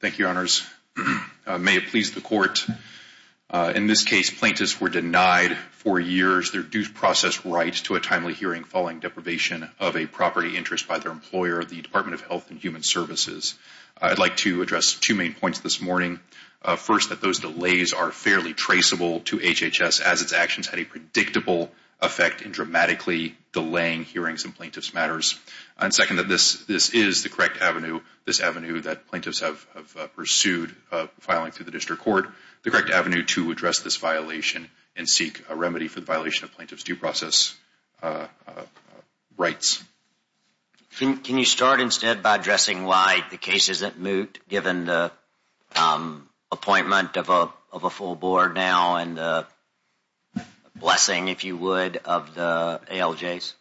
Thank you, Your Honors. May it please the Court, in this case, plaintiffs were denied for years their due process right to a timely hearing following deprivation of a property interest by their employer, the Department of Health and Human Services. I'd like to address two main points this morning. First, that those delays are fairly traceable to HHS as its actions had a predictable effect in dramatically delaying hearings in plaintiffs' matters. And second, that this is the correct avenue, this avenue that plaintiffs have pursued filing through the District Court, the correct avenue to address this violation and seek a remedy for the violation of plaintiffs' due process rights. Can you start instead by addressing why the case isn't moot, given the appointment of a full board now and the blessing, if you would, of the ALJs?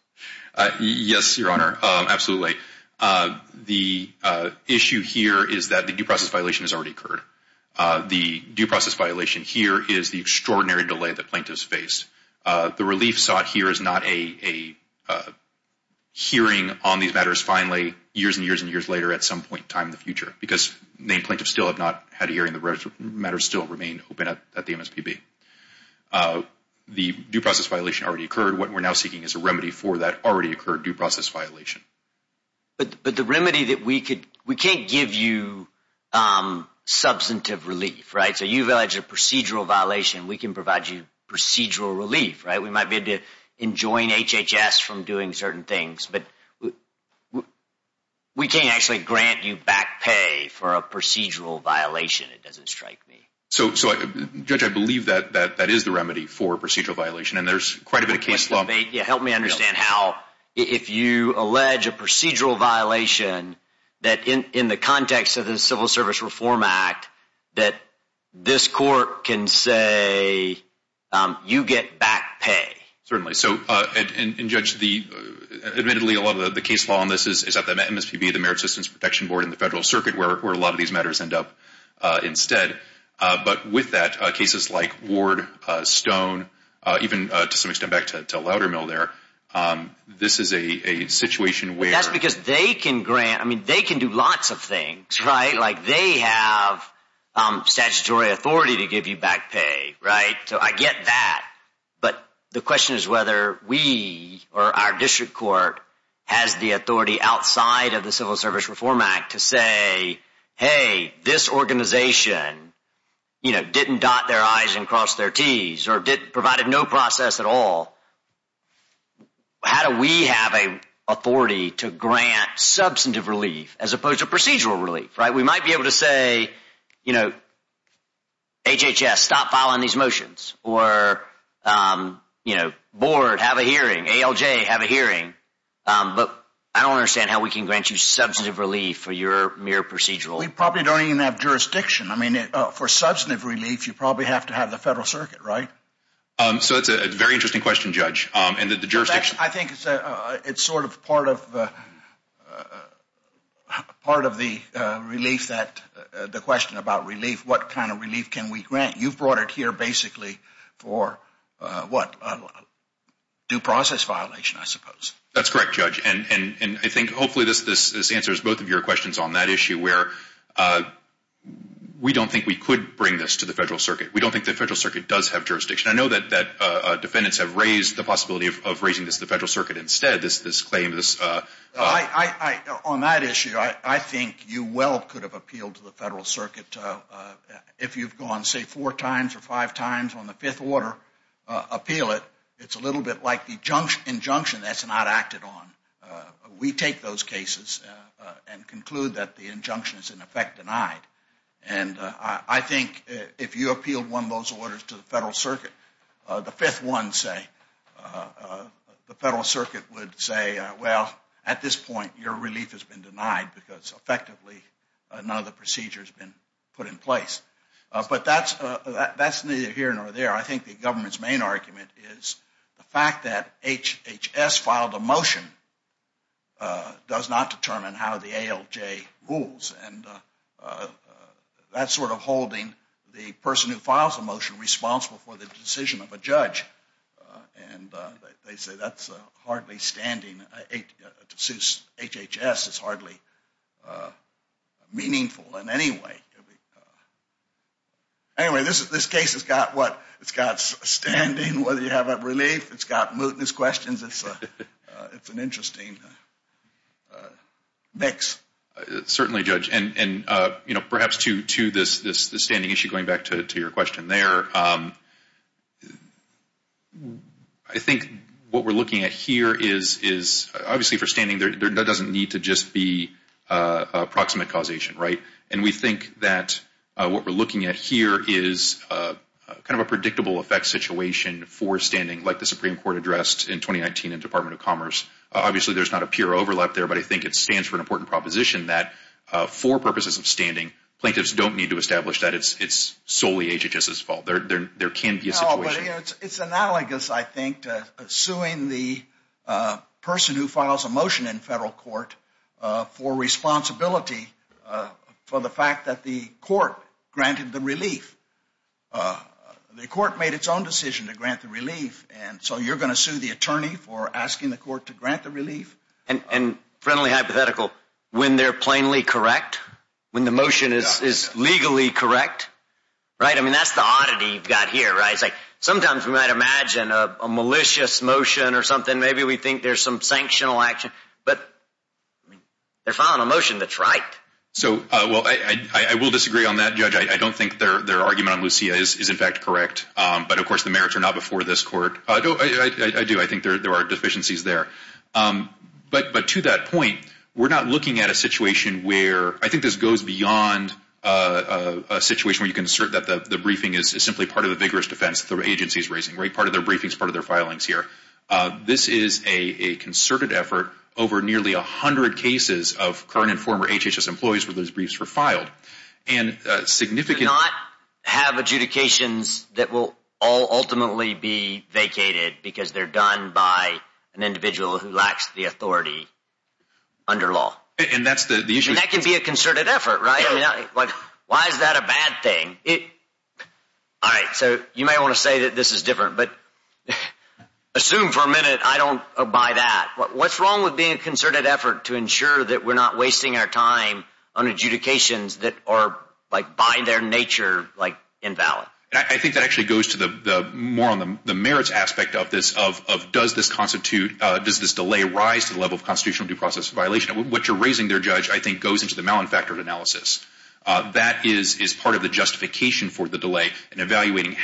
Xavier Becerra Yes, Your Honor, absolutely. The issue here is that the due process violation has already occurred. The due process violation here is the extraordinary delay that plaintiffs faced. The relief sought here is not a hearing on these matters finally years and years and years later at some point in time in the future, because the plaintiffs still have not had a hearing, the matters still remain open at the MSPB. The due process violation already occurred. What we're now seeking is a remedy for that already occurred due process violation. But the remedy that we could – we can't give you substantive relief, right? So you've alleged a procedural violation. We can provide you procedural relief, right? We might be able to enjoin HHS from doing certain things, but we can't actually grant you back pay for a procedural violation. It doesn't strike me. So, Judge, I believe that that is the remedy for procedural violation, and there's quite a bit of case law – Help me understand how if you allege a procedural violation that in the context of the Civil Service Reform Act that this court can say you get back pay. Certainly. So, and Judge, the – admittedly, a lot of the case law on this is at the MSPB, the Merit Systems Protection Board, and the Federal Circuit where a lot of these matters end up instead. But with that, cases like Ward, Stone, even to some extent back to Loudermill there, this is a situation where – That's because they can grant – I mean, they can do lots of things, right? Like they have statutory authority to give you back pay, right? So I get that, but the question is whether we or our district court has the authority outside of the Civil Service Reform Act to say, hey, this organization didn't dot their I's and cross their T's or provided no process at all. How do we have an authority to grant substantive relief as opposed to procedural relief, right? We might be able to say, you know, HHS, stop filing these motions, or, you know, board, have a hearing, ALJ, have a hearing. But I don't understand how we can grant you substantive relief for your mere procedural – We probably don't even have jurisdiction. I mean, for substantive relief, you probably have to have the Federal Circuit, right? So it's a very interesting question, Judge, and that the jurisdiction – I think it's sort of part of the relief that – the question about relief, what kind of relief can we grant? You've brought it here basically for, what, due process violation, I suppose. That's correct, Judge, and I think hopefully this answers both of your questions on that issue where we don't think we could bring this to the Federal Circuit. We don't think the Federal Circuit does have jurisdiction. I know that defendants have raised the possibility of raising this to the Federal Circuit instead, this claim, this – On that issue, I think you well could have appealed to the Federal Circuit if you've gone, say, four times or five times on the Fifth Order, appeal it. It's a little bit like the injunction that's not acted on. We take those cases and conclude that the injunction is, in effect, denied. And I think if you appealed one of those orders to the Federal Circuit, the Fifth One, say, the Federal Circuit would say, well, at this point your relief has been denied because effectively none of the procedure has been put in place. But that's neither here nor there. I think the government's main argument is the fact that HHS filed a motion does not determine how the ALJ rules. And that's sort of holding the person who files a motion responsible for the decision of a judge. And they say that's hardly standing. To sue HHS is hardly meaningful in any way. Anyway, this case has got what? It's got standing whether you have relief. It's got mootness questions. It's an interesting mix. Certainly, Judge. And, you know, perhaps to this standing issue, going back to your question there, I think what we're looking at here is obviously for standing there doesn't need to just be approximate causation, right? And we think that what we're looking at here is kind of a predictable effect situation for standing, like the Supreme Court addressed in 2019 in Department of Commerce. Obviously, there's not a pure overlap there, but I think it stands for an important proposition that for purposes of standing, plaintiffs don't need to establish that it's solely HHS's fault. There can be a situation. It's analogous, I think, to suing the person who files a motion in federal court for responsibility for the fact that the court granted the relief. The court made its own decision to grant the relief. And so you're going to sue the attorney for asking the court to grant the relief? And friendly hypothetical, when they're plainly correct, when the motion is legally correct, right? I mean, that's the oddity you've got here, right? It's like sometimes we might imagine a malicious motion or something. Maybe we think there's some sanctional action, but they're filing a motion that's right. So, well, I will disagree on that, Judge. I don't think their argument on Lucia is in fact correct. But, of course, the merits are not before this court. I do. I think there are deficiencies there. But to that point, we're not looking at a situation where I think this goes beyond a situation where you can assert that the briefing is simply part of the vigorous defense the agency is raising. Part of their briefing is part of their filings here. This is a concerted effort over nearly 100 cases of current and former HHS employees where those briefs were filed. Do not have adjudications that will all ultimately be vacated because they're done by an individual who lacks the authority under law. And that can be a concerted effort, right? Why is that a bad thing? All right, so you may want to say that this is different, but assume for a minute I don't buy that. What's wrong with being a concerted effort to ensure that we're not wasting our time on adjudications that are, like, by their nature, like, invalid? I think that actually goes to the merits aspect of this, of does this delay rise to the level of constitutional due process violation? What you're raising there, Judge, I think goes into the mal-infactored analysis. That is part of the justification for the delay in evaluating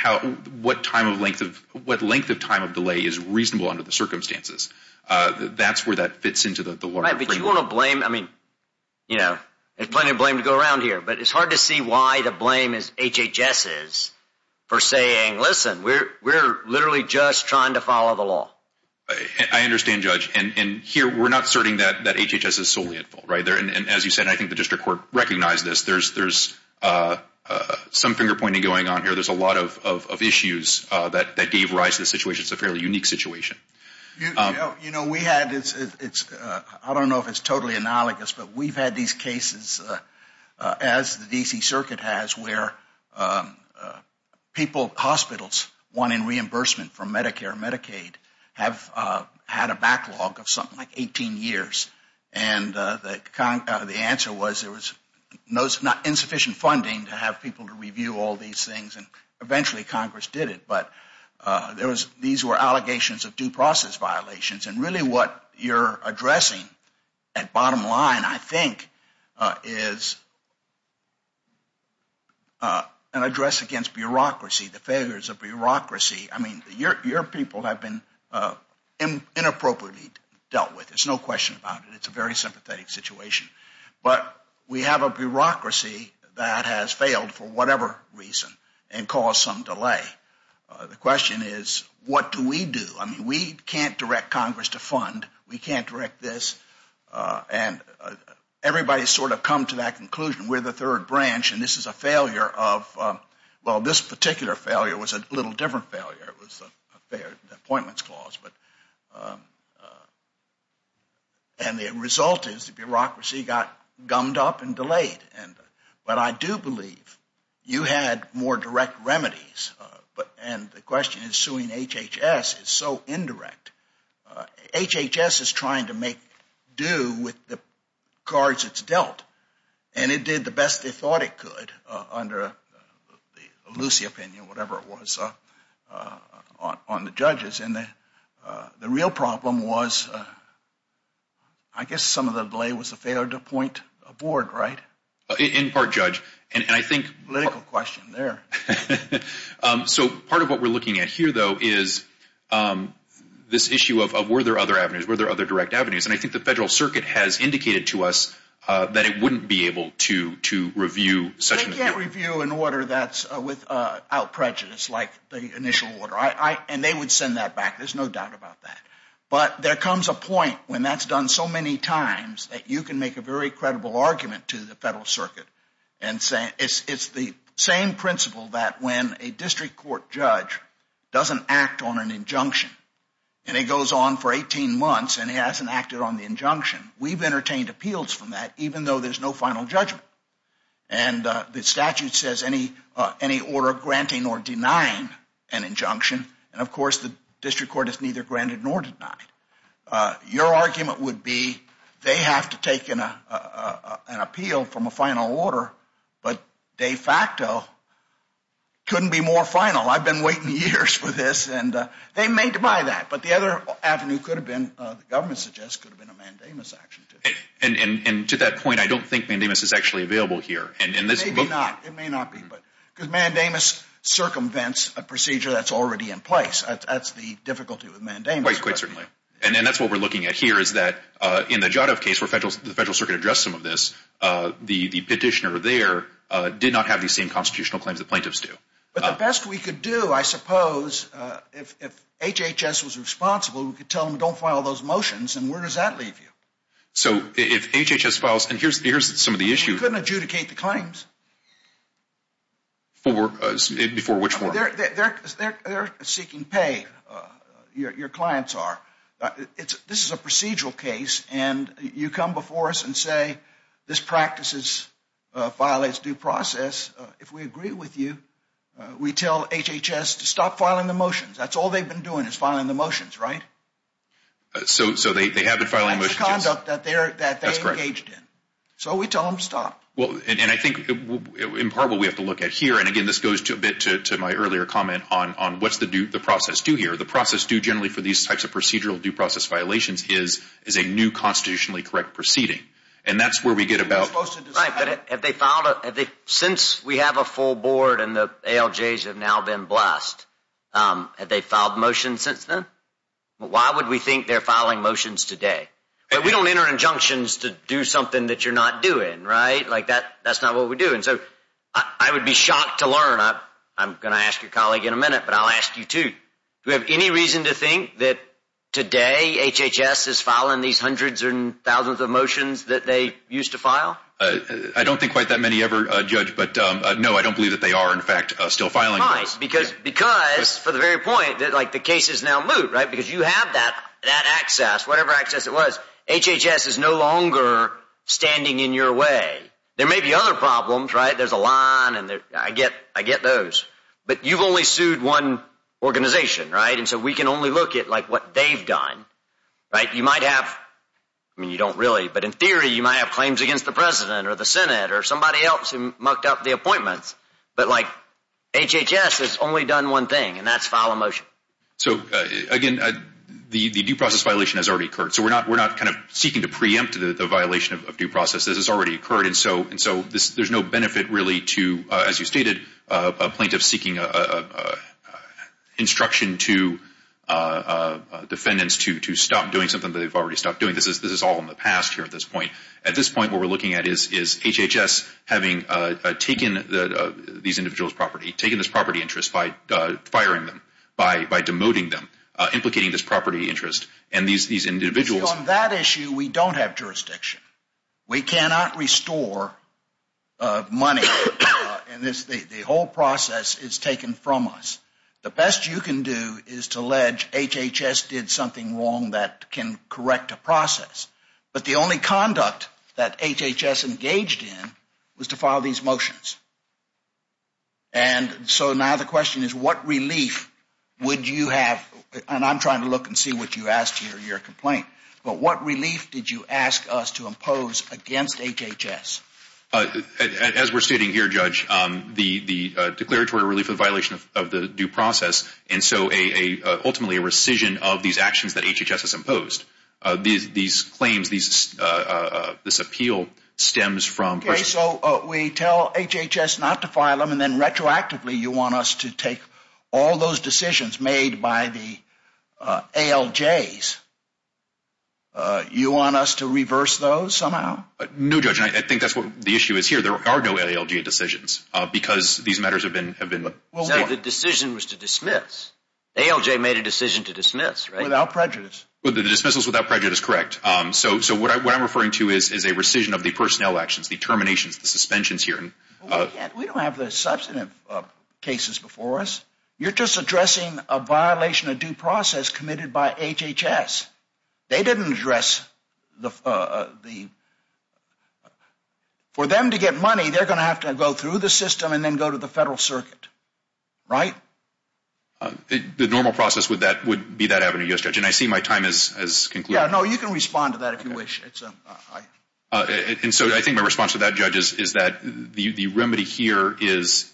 what length of time of delay is reasonable under the circumstances. That's where that fits into the larger framework. Right, but you want to blame, I mean, you know, there's plenty of blame to go around here. But it's hard to see why the blame is HHS's for saying, listen, we're literally just trying to follow the law. I understand, Judge, and here we're not asserting that HHS is solely at fault, right? And as you said, I think the district court recognized this. There's some finger-pointing going on here. There's a lot of issues that gave rise to this situation. It's a fairly unique situation. You know, we had, I don't know if it's totally analogous, but we've had these cases, as the D.C. Circuit has, where people, hospitals wanting reimbursement from Medicare and Medicaid have had a backlog of something like 18 years. And the answer was there was insufficient funding to have people to review all these things. And eventually Congress did it. But these were allegations of due process violations. And really what you're addressing at bottom line, I think, is an address against bureaucracy, the failures of bureaucracy. I mean, your people have been inappropriately dealt with. There's no question about it. It's a very sympathetic situation. But we have a bureaucracy that has failed for whatever reason and caused some delay. The question is, what do we do? I mean, we can't direct Congress to fund. We can't direct this. And everybody's sort of come to that conclusion. We're the third branch, and this is a failure of, well, this particular failure was a little different failure. It was the appointments clause. And the result is the bureaucracy got gummed up and delayed. But I do believe you had more direct remedies. And the question is suing HHS is so indirect. HHS is trying to make due with the cards it's dealt. And it did the best they thought it could under the Lucy opinion, whatever it was, on the judges. And the real problem was I guess some of the delay was a failure to appoint a board, right? In part, Judge. And I think – Political question there. So part of what we're looking at here, though, is this issue of were there other avenues, were there other direct avenues. And I think the Federal Circuit has indicated to us that it wouldn't be able to review such – They can't review an order that's without prejudice like the initial order. And they would send that back. There's no doubt about that. But there comes a point when that's done so many times that you can make a very credible argument to the Federal Circuit and say it's the same principle that when a district court judge doesn't act on an injunction and he goes on for 18 months and he hasn't acted on the injunction, we've entertained appeals from that even though there's no final judgment. And the statute says any order granting or denying an injunction. And, of course, the district court is neither granted nor denied. Your argument would be they have to take an appeal from a final order, but de facto couldn't be more final. I've been waiting years for this. And they may deny that. But the other avenue could have been, the government suggests, could have been a mandamus action. And to that point, I don't think mandamus is actually available here. Maybe not. It may not be. Because mandamus circumvents a procedure that's already in place. That's the difficulty with mandamus. Quite certainly. And that's what we're looking at here is that in the Jadov case where the Federal Circuit addressed some of this, the petitioner there did not have the same constitutional claims the plaintiffs do. But the best we could do, I suppose, if HHS was responsible, we could tell them don't file those motions, and where does that leave you? So if HHS files, and here's some of the issues. They couldn't adjudicate the claims. For which form? They're seeking pay. Your clients are. This is a procedural case, and you come before us and say this practice violates due process. That's all they've been doing is filing the motions, right? So they have been filing motions. That's the conduct that they engaged in. So we tell them stop. And I think in part what we have to look at here, and again, this goes a bit to my earlier comment on what's the process do here. The process do generally for these types of procedural due process violations is a new constitutionally correct proceeding. And that's where we get about. Since we have a full board and the ALJs have now been blessed, have they filed motions since then? Why would we think they're filing motions today? We don't enter injunctions to do something that you're not doing, right? That's not what we do. And so I would be shocked to learn. I'm going to ask your colleague in a minute, but I'll ask you too. Do we have any reason to think that today HHS is filing these hundreds and thousands of motions that they used to file? I don't think quite that many ever, Judge. But, no, I don't believe that they are, in fact, still filing. Because, for the very point, the case is now moot, right? Because you have that access, whatever access it was. HHS is no longer standing in your way. There may be other problems, right? There's a line. I get those. But you've only sued one organization, right? And so we can only look at, like, what they've done, right? You might have, I mean, you don't really. But in theory, you might have claims against the President or the Senate or somebody else who mucked up the appointments. But, like, HHS has only done one thing, and that's file a motion. So, again, the due process violation has already occurred. So we're not kind of seeking to preempt the violation of due process. This has already occurred. And so there's no benefit, really, to, as you stated, a plaintiff seeking instruction to defendants to stop doing something that they've already stopped doing. This is all in the past here at this point. At this point, what we're looking at is HHS having taken these individuals' property, taken this property interest by firing them, by demoting them, implicating this property interest. And these individuals. On that issue, we don't have jurisdiction. We cannot restore money. And the whole process is taken from us. The best you can do is to allege HHS did something wrong that can correct a process. But the only conduct that HHS engaged in was to file these motions. And so now the question is, what relief would you have? And I'm trying to look and see what you asked here in your complaint. But what relief did you ask us to impose against HHS? As we're stating here, Judge, the declaratory relief of violation of the due process. And so ultimately a rescission of these actions that HHS has imposed. These claims, this appeal stems from. Okay, so we tell HHS not to file them and then retroactively you want us to take all those decisions made by the ALJs. You want us to reverse those somehow? No, Judge, I think that's what the issue is here. There are no ALJ decisions because these matters have been. The decision was to dismiss. ALJ made a decision to dismiss, right? Without prejudice. The dismissal is without prejudice, correct. So what I'm referring to is a rescission of the personnel actions, the terminations, the suspensions here. We don't have the substantive cases before us. You're just addressing a violation of due process committed by HHS. They didn't address the... For them to get money, they're going to have to go through the system and then go to the federal circuit, right? The normal process would be that avenue, yes, Judge. And I see my time has concluded. Yeah, no, you can respond to that if you wish. And so I think my response to that, Judge, is that the remedy here is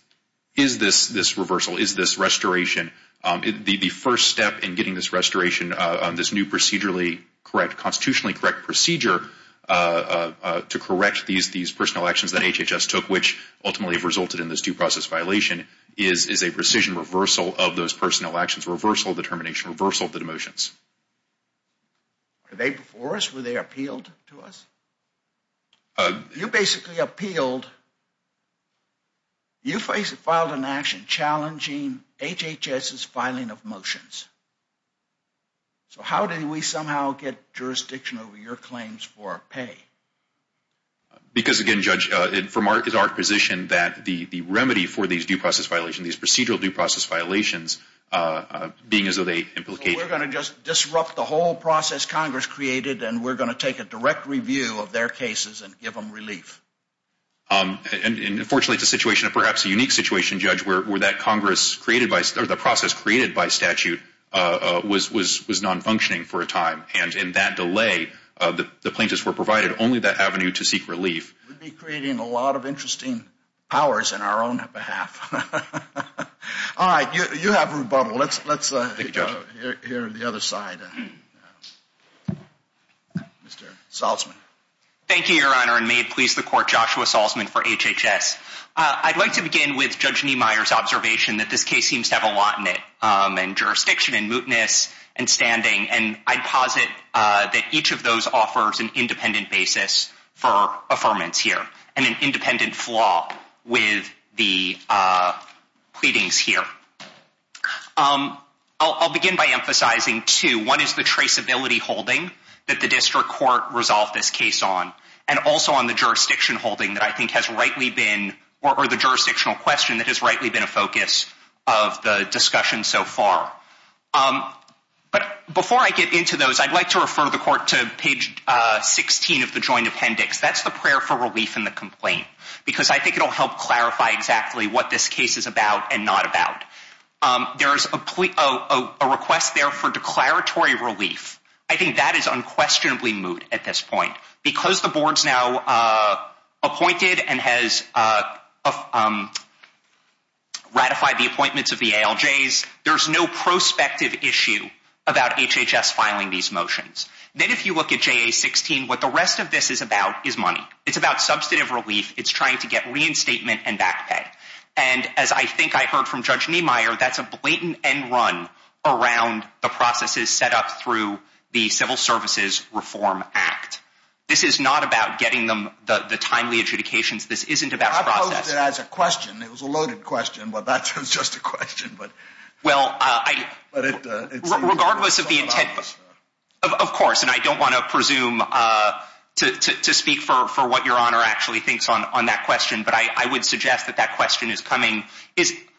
this reversal, is this restoration. The first step in getting this restoration, this new procedurally correct, constitutionally correct procedure to correct these personnel actions that HHS took, which ultimately resulted in this due process violation, is a rescission reversal of those personnel actions, reversal of the termination, reversal of the demotions. Were they before us? Were they appealed to us? You basically appealed... You filed an action challenging HHS's filing of motions. So how did we somehow get jurisdiction over your claims for pay? Because, again, Judge, it's our position that the remedy for these due process violations, these procedural due process violations, being as though they implicate... We're going to just disrupt the whole process Congress created, and we're going to take a direct review of their cases and give them relief. And, unfortunately, it's a situation, perhaps a unique situation, Judge, where that process created by statute was nonfunctioning for a time. And in that delay, the plaintiffs were provided only that avenue to seek relief. We'd be creating a lot of interesting powers in our own behalf. All right, you have rebuttal. Let's hear the other side. Mr. Salzman. Thank you, Your Honor, and may it please the Court, Joshua Salzman for HHS. I'd like to begin with Judge Niemeyer's observation that this case seems to have a lot in it, and jurisdiction and mootness and standing. And I'd posit that each of those offers an independent basis for affirmance here and an independent flaw with the pleadings here. I'll begin by emphasizing two. One is the traceability holding that the district court resolved this case on, and also on the jurisdiction holding that I think has rightly been, or the jurisdictional question that has rightly been a focus of the discussion so far. But before I get into those, I'd like to refer the Court to page 16 of the joint appendix. That's the prayer for relief in the complaint, because I think it will help clarify exactly what this case is about and not about. There is a request there for declaratory relief. I think that is unquestionably moot at this point. Because the board's now appointed and has ratified the appointments of the ALJs, there's no prospective issue about HHS filing these motions. Then if you look at JA-16, what the rest of this is about is money. It's about substantive relief. It's trying to get reinstatement and back pay. And as I think I heard from Judge Niemeyer, that's a blatant end run around the processes set up through the Civil Services Reform Act. This is not about getting them the timely adjudications. This isn't about process. I posed it as a question. It was a loaded question. Well, that was just a question. Well, regardless of the intent, of course, and I don't want to presume to speak for what Your Honor actually thinks on that question, but I would suggest that that question is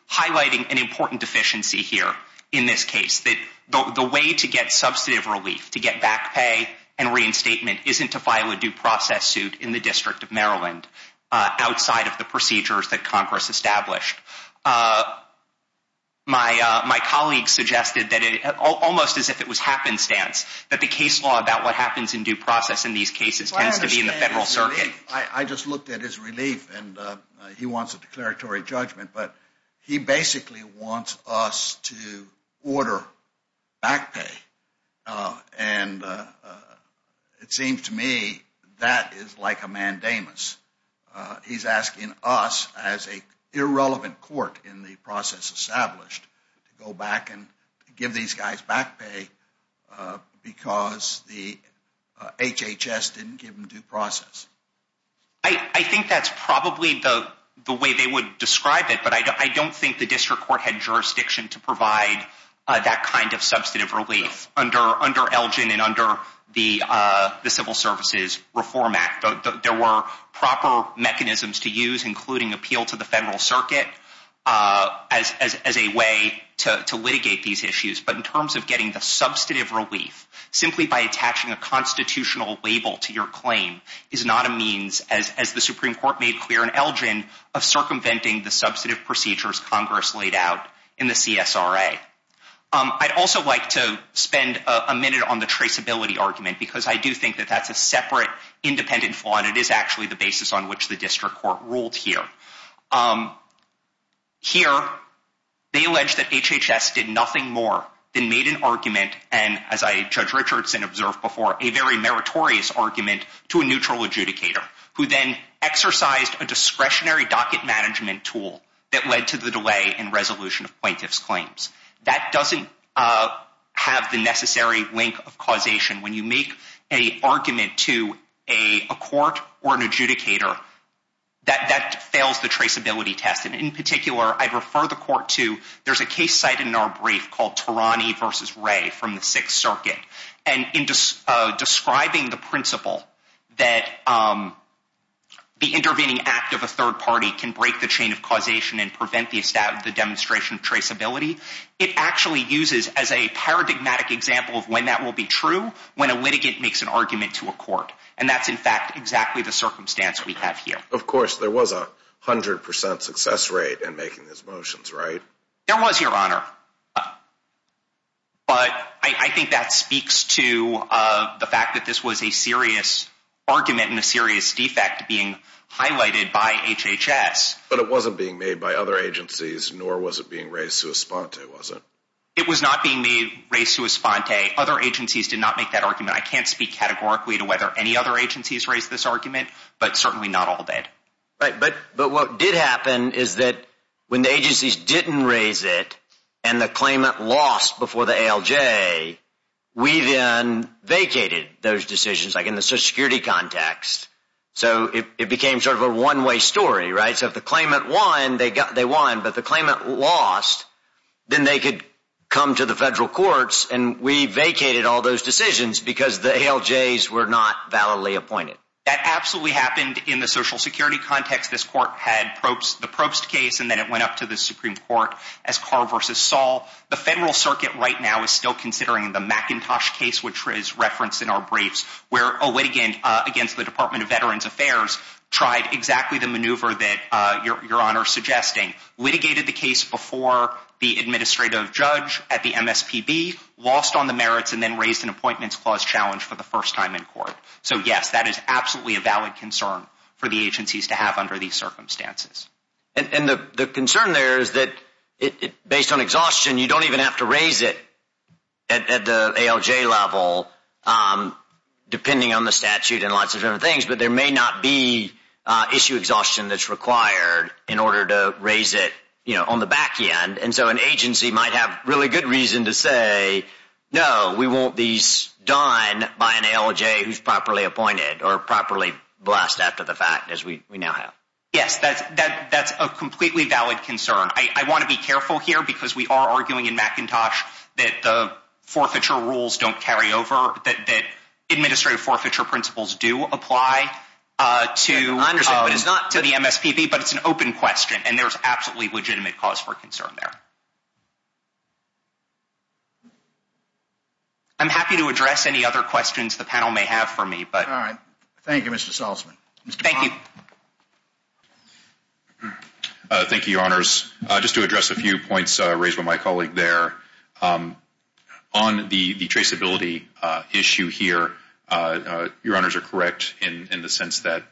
highlighting an important deficiency here in this case, that the way to get substantive relief, to get back pay and reinstatement, isn't to file a due process suit in the District of Maryland outside of the procedures that Congress established. My colleague suggested, almost as if it was happenstance, that the case law about what happens in due process in these cases tends to be in the Federal Circuit. I just looked at his relief, and he wants a declaratory judgment, but he basically wants us to order back pay, and it seems to me that is like a mandamus. He's asking us, as an irrelevant court in the process established, to go back and give these guys back pay because the HHS didn't give them due process. I think that's probably the way they would describe it, but I don't think the district court had jurisdiction to provide that kind of substantive relief under Elgin and under the Civil Services Reform Act. There were proper mechanisms to use, including appeal to the Federal Circuit, as a way to litigate these issues, but in terms of getting the substantive relief, simply by attaching a constitutional label to your claim is not a means, as the Supreme Court made clear in Elgin, of circumventing the substantive procedures Congress laid out in the CSRA. I'd also like to spend a minute on the traceability argument, because I do think that that's a separate, independent flaw, but it is actually the basis on which the district court ruled here. Here, they allege that HHS did nothing more than made an argument, and as Judge Richardson observed before, a very meritorious argument to a neutral adjudicator, who then exercised a discretionary docket management tool that led to the delay in resolution of plaintiff's claims. That doesn't have the necessary link of causation. When you make an argument to a court or an adjudicator, that fails the traceability test, and in particular, I'd refer the court to, there's a case cited in our brief called Tarani v. Ray from the Sixth Circuit, and in describing the principle that the intervening act of a third party can break the chain of causation and prevent the demonstration of traceability, it actually uses as a paradigmatic example of when that will be true when a litigant makes an argument to a court, and that's in fact exactly the circumstance we have here. Of course, there was a 100% success rate in making these motions, right? There was, Your Honor. But I think that speaks to the fact that this was a serious argument and a serious defect being highlighted by HHS. But it wasn't being made by other agencies, nor was it being raised sui sponte, was it? It was not being raised sui sponte. Other agencies did not make that argument. I can't speak categorically to whether any other agencies raised this argument, but certainly not all did. Right, but what did happen is that when the agencies didn't raise it and the claimant lost before the ALJ, we then vacated those decisions, like in the Social Security context, so it became sort of a one-way story, right? So if the claimant won, they won, but the claimant lost, then they could come to the federal courts, and we vacated all those decisions because the ALJs were not validly appointed. That absolutely happened in the Social Security context. This court had the Probst case, and then it went up to the Supreme Court as Carr v. Saul. The federal circuit right now is still considering the McIntosh case, which is referenced in our briefs, where a litigant against the Department of Veterans Affairs tried exactly the maneuver that Your Honor is suggesting, litigated the case before the administrative judge at the MSPB, lost on the merits, and then raised an Appointments Clause challenge for the first time in court. So yes, that is absolutely a valid concern for the agencies to have under these circumstances. And the concern there is that, based on exhaustion, you don't even have to raise it at the ALJ level, depending on the statute and lots of different things, but there may not be issue exhaustion that's required in order to raise it on the back end. And so an agency might have really good reason to say, no, we want these done by an ALJ who's properly appointed or properly blessed after the fact, as we now have. Yes, that's a completely valid concern. I want to be careful here because we are arguing in McIntosh that the forfeiture rules don't carry over, that administrative forfeiture principles do apply to the MSPB, but it's an open question, and there's absolutely legitimate cause for concern there. I'm happy to address any other questions the panel may have for me. All right. Thank you, Mr. Salzman. Thank you. Thank you, Your Honors. Just to address a few points raised by my colleague there, on the traceability issue here, Your Honors are correct in the sense that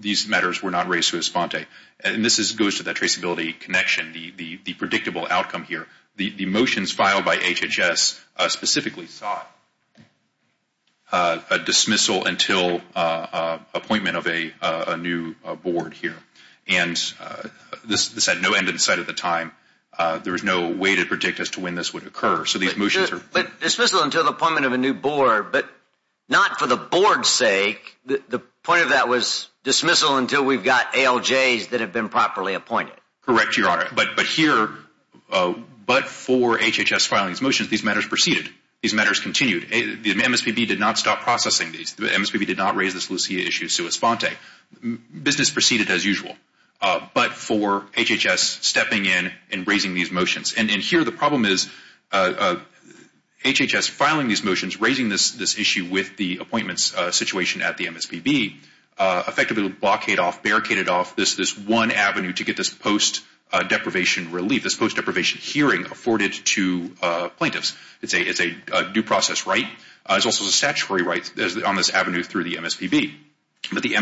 these matters were not raised to Esfante. And this goes to that traceability connection, the predictable outcome here. The motions filed by HHS specifically sought a dismissal until appointment of a new board here. And this had no end in sight at the time. There was no way to predict as to when this would occur. But dismissal until the appointment of a new board, but not for the board's sake. The point of that was dismissal until we've got ALJs that have been properly appointed. Correct, Your Honor. But here, but for HHS filing these motions, these matters proceeded. These matters continued. The MSPB did not stop processing these. The MSPB did not raise this Lucia issue to Esfante. Business proceeded as usual. But for HHS stepping in and raising these motions. And here the problem is HHS filing these motions, raising this issue with the appointments situation at the MSPB, effectively blockaded off, barricaded off this one avenue to get this post-deprivation relief, this post-deprivation hearing afforded to plaintiffs. It's a due process right. It's also a statutory right on this avenue through the MSPB. But the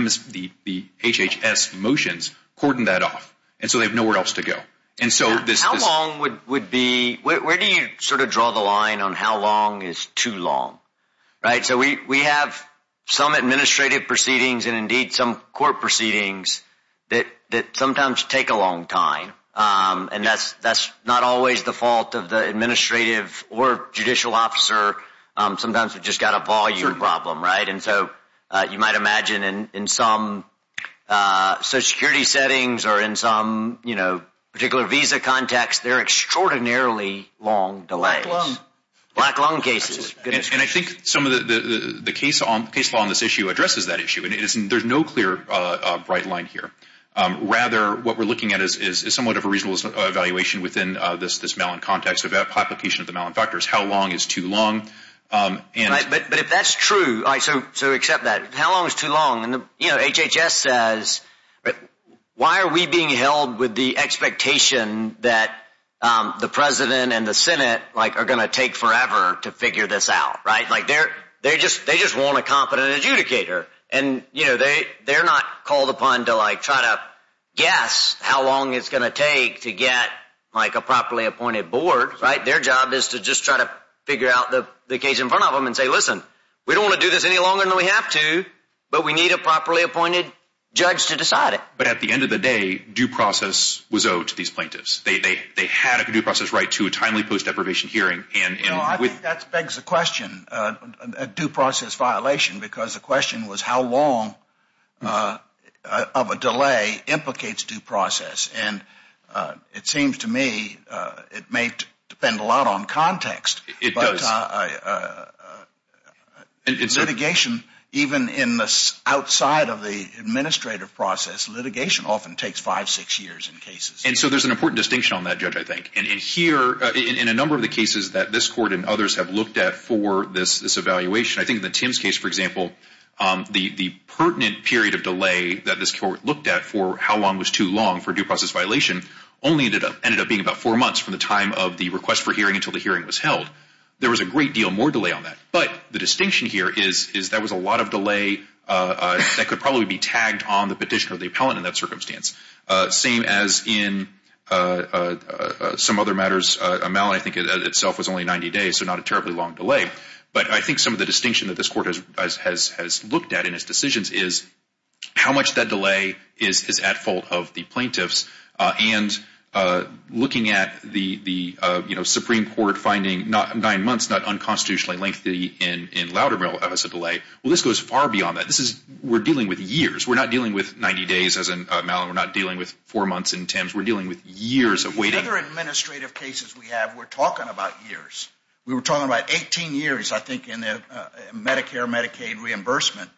HHS motions cordoned that off. And so they have nowhere else to go. How long would be, where do you sort of draw the line on how long is too long? Right, so we have some administrative proceedings and indeed some court proceedings that sometimes take a long time. And that's not always the fault of the administrative or judicial officer. Sometimes we've just got a volume problem, right. And so you might imagine in some social security settings or in some particular visa context they're extraordinarily long delays. Black lung. Black lung cases. And I think some of the case law on this issue addresses that issue. And there's no clear bright line here. Rather what we're looking at is somewhat of a reasonable evaluation within this Malin context of application of the Malin factors. How long is too long? But if that's true, so accept that. How long is too long? HHS says, why are we being held with the expectation that the president and the Senate are going to take forever to figure this out, right? They just want a competent adjudicator. And they're not called upon to try to guess how long it's going to take to get a properly appointed board, right? And say, listen, we don't want to do this any longer than we have to, but we need a properly appointed judge to decide it. But at the end of the day, due process was owed to these plaintiffs. They had a due process right to a timely post deprivation hearing. I think that begs the question, a due process violation, because the question was how long of a delay implicates due process. And it seems to me it may depend a lot on context. But litigation, even in the outside of the administrative process, litigation often takes five, six years in cases. And so there's an important distinction on that, Judge, I think. And here, in a number of the cases that this court and others have looked at for this evaluation, I think the Tims case, for example, the pertinent period of delay that this court looked at for how long was too long for a due process violation only ended up being about four months from the time of the request for hearing until the hearing was held. There was a great deal more delay on that. But the distinction here is that was a lot of delay that could probably be tagged on the petitioner or the appellant in that circumstance, same as in some other matters. Malin, I think, itself was only 90 days, so not a terribly long delay. But I think some of the distinction that this court has looked at in its decisions is how much that delay is at fault of the plaintiffs. And looking at the Supreme Court finding nine months not unconstitutionally lengthy in Loudermill as a delay, well, this goes far beyond that. We're dealing with years. We're not dealing with 90 days, as in Malin. We're not dealing with four months in Tims. We're dealing with years of waiting. The other administrative cases we have, we're talking about years. We were talking about 18 years, I think, in Medicare, Medicaid reimbursement.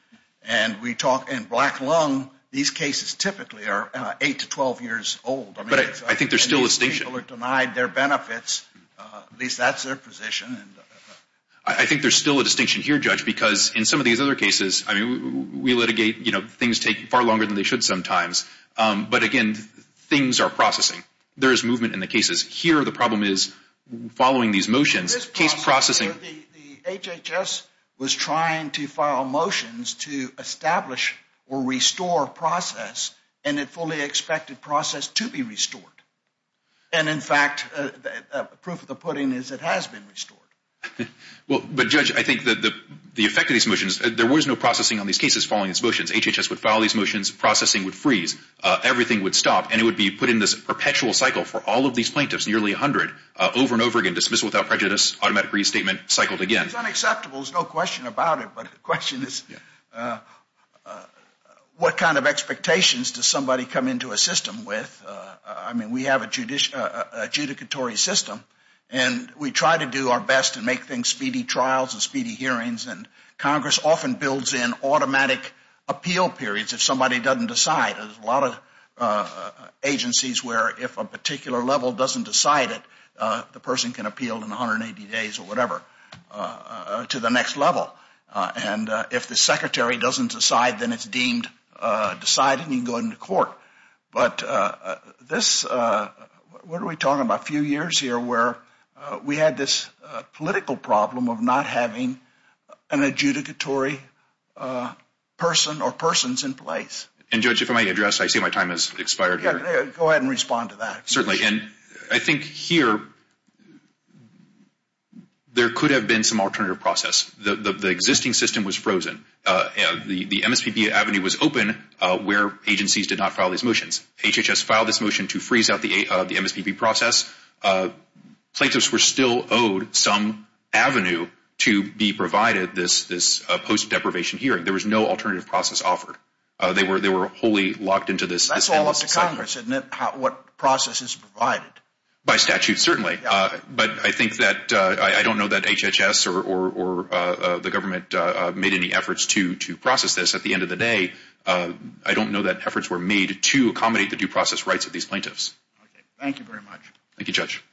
And we talk in Black Lung, these cases typically are 8 to 12 years old. But I think there's still a distinction. People are denied their benefits. At least that's their position. I think there's still a distinction here, Judge, because in some of these other cases, I mean, we litigate, you know, things take far longer than they should sometimes. But, again, things are processing. There is movement in the cases. Here the problem is following these motions, case processing. The HHS was trying to file motions to establish or restore process, and it fully expected process to be restored. And, in fact, the proof of the pudding is it has been restored. But, Judge, I think the effect of these motions, there was no processing on these cases following these motions. HHS would file these motions. Processing would freeze. Everything would stop, and it would be put in this perpetual cycle for all of these plaintiffs, nearly 100, over and over again, dismissal without prejudice, automatic restatement, cycled again. It's unacceptable. There's no question about it. But the question is what kind of expectations does somebody come into a system with? I mean, we have a judicatory system, and we try to do our best to make things speedy trials and speedy hearings. And Congress often builds in automatic appeal periods if somebody doesn't decide. There's a lot of agencies where if a particular level doesn't decide it, the person can appeal in 180 days or whatever to the next level. And if the secretary doesn't decide, then it's deemed decided and you can go into court. But this, what are we talking about, a few years here where we had this political problem of not having an adjudicatory person or persons in place. And, Judge, if I may address, I see my time has expired here. Go ahead and respond to that. Certainly. And I think here there could have been some alternative process. The existing system was frozen. The MSPP avenue was open where agencies did not file these motions. HHS filed this motion to freeze out the MSPP process. Plaintiffs were still owed some avenue to be provided this post-deprivation hearing. There was no alternative process offered. They were wholly locked into this endless cycle. What process is provided? By statute, certainly. But I think that I don't know that HHS or the government made any efforts to process this. At the end of the day, I don't know that efforts were made to accommodate the due process rights of these plaintiffs. Thank you very much. Thank you, Judge.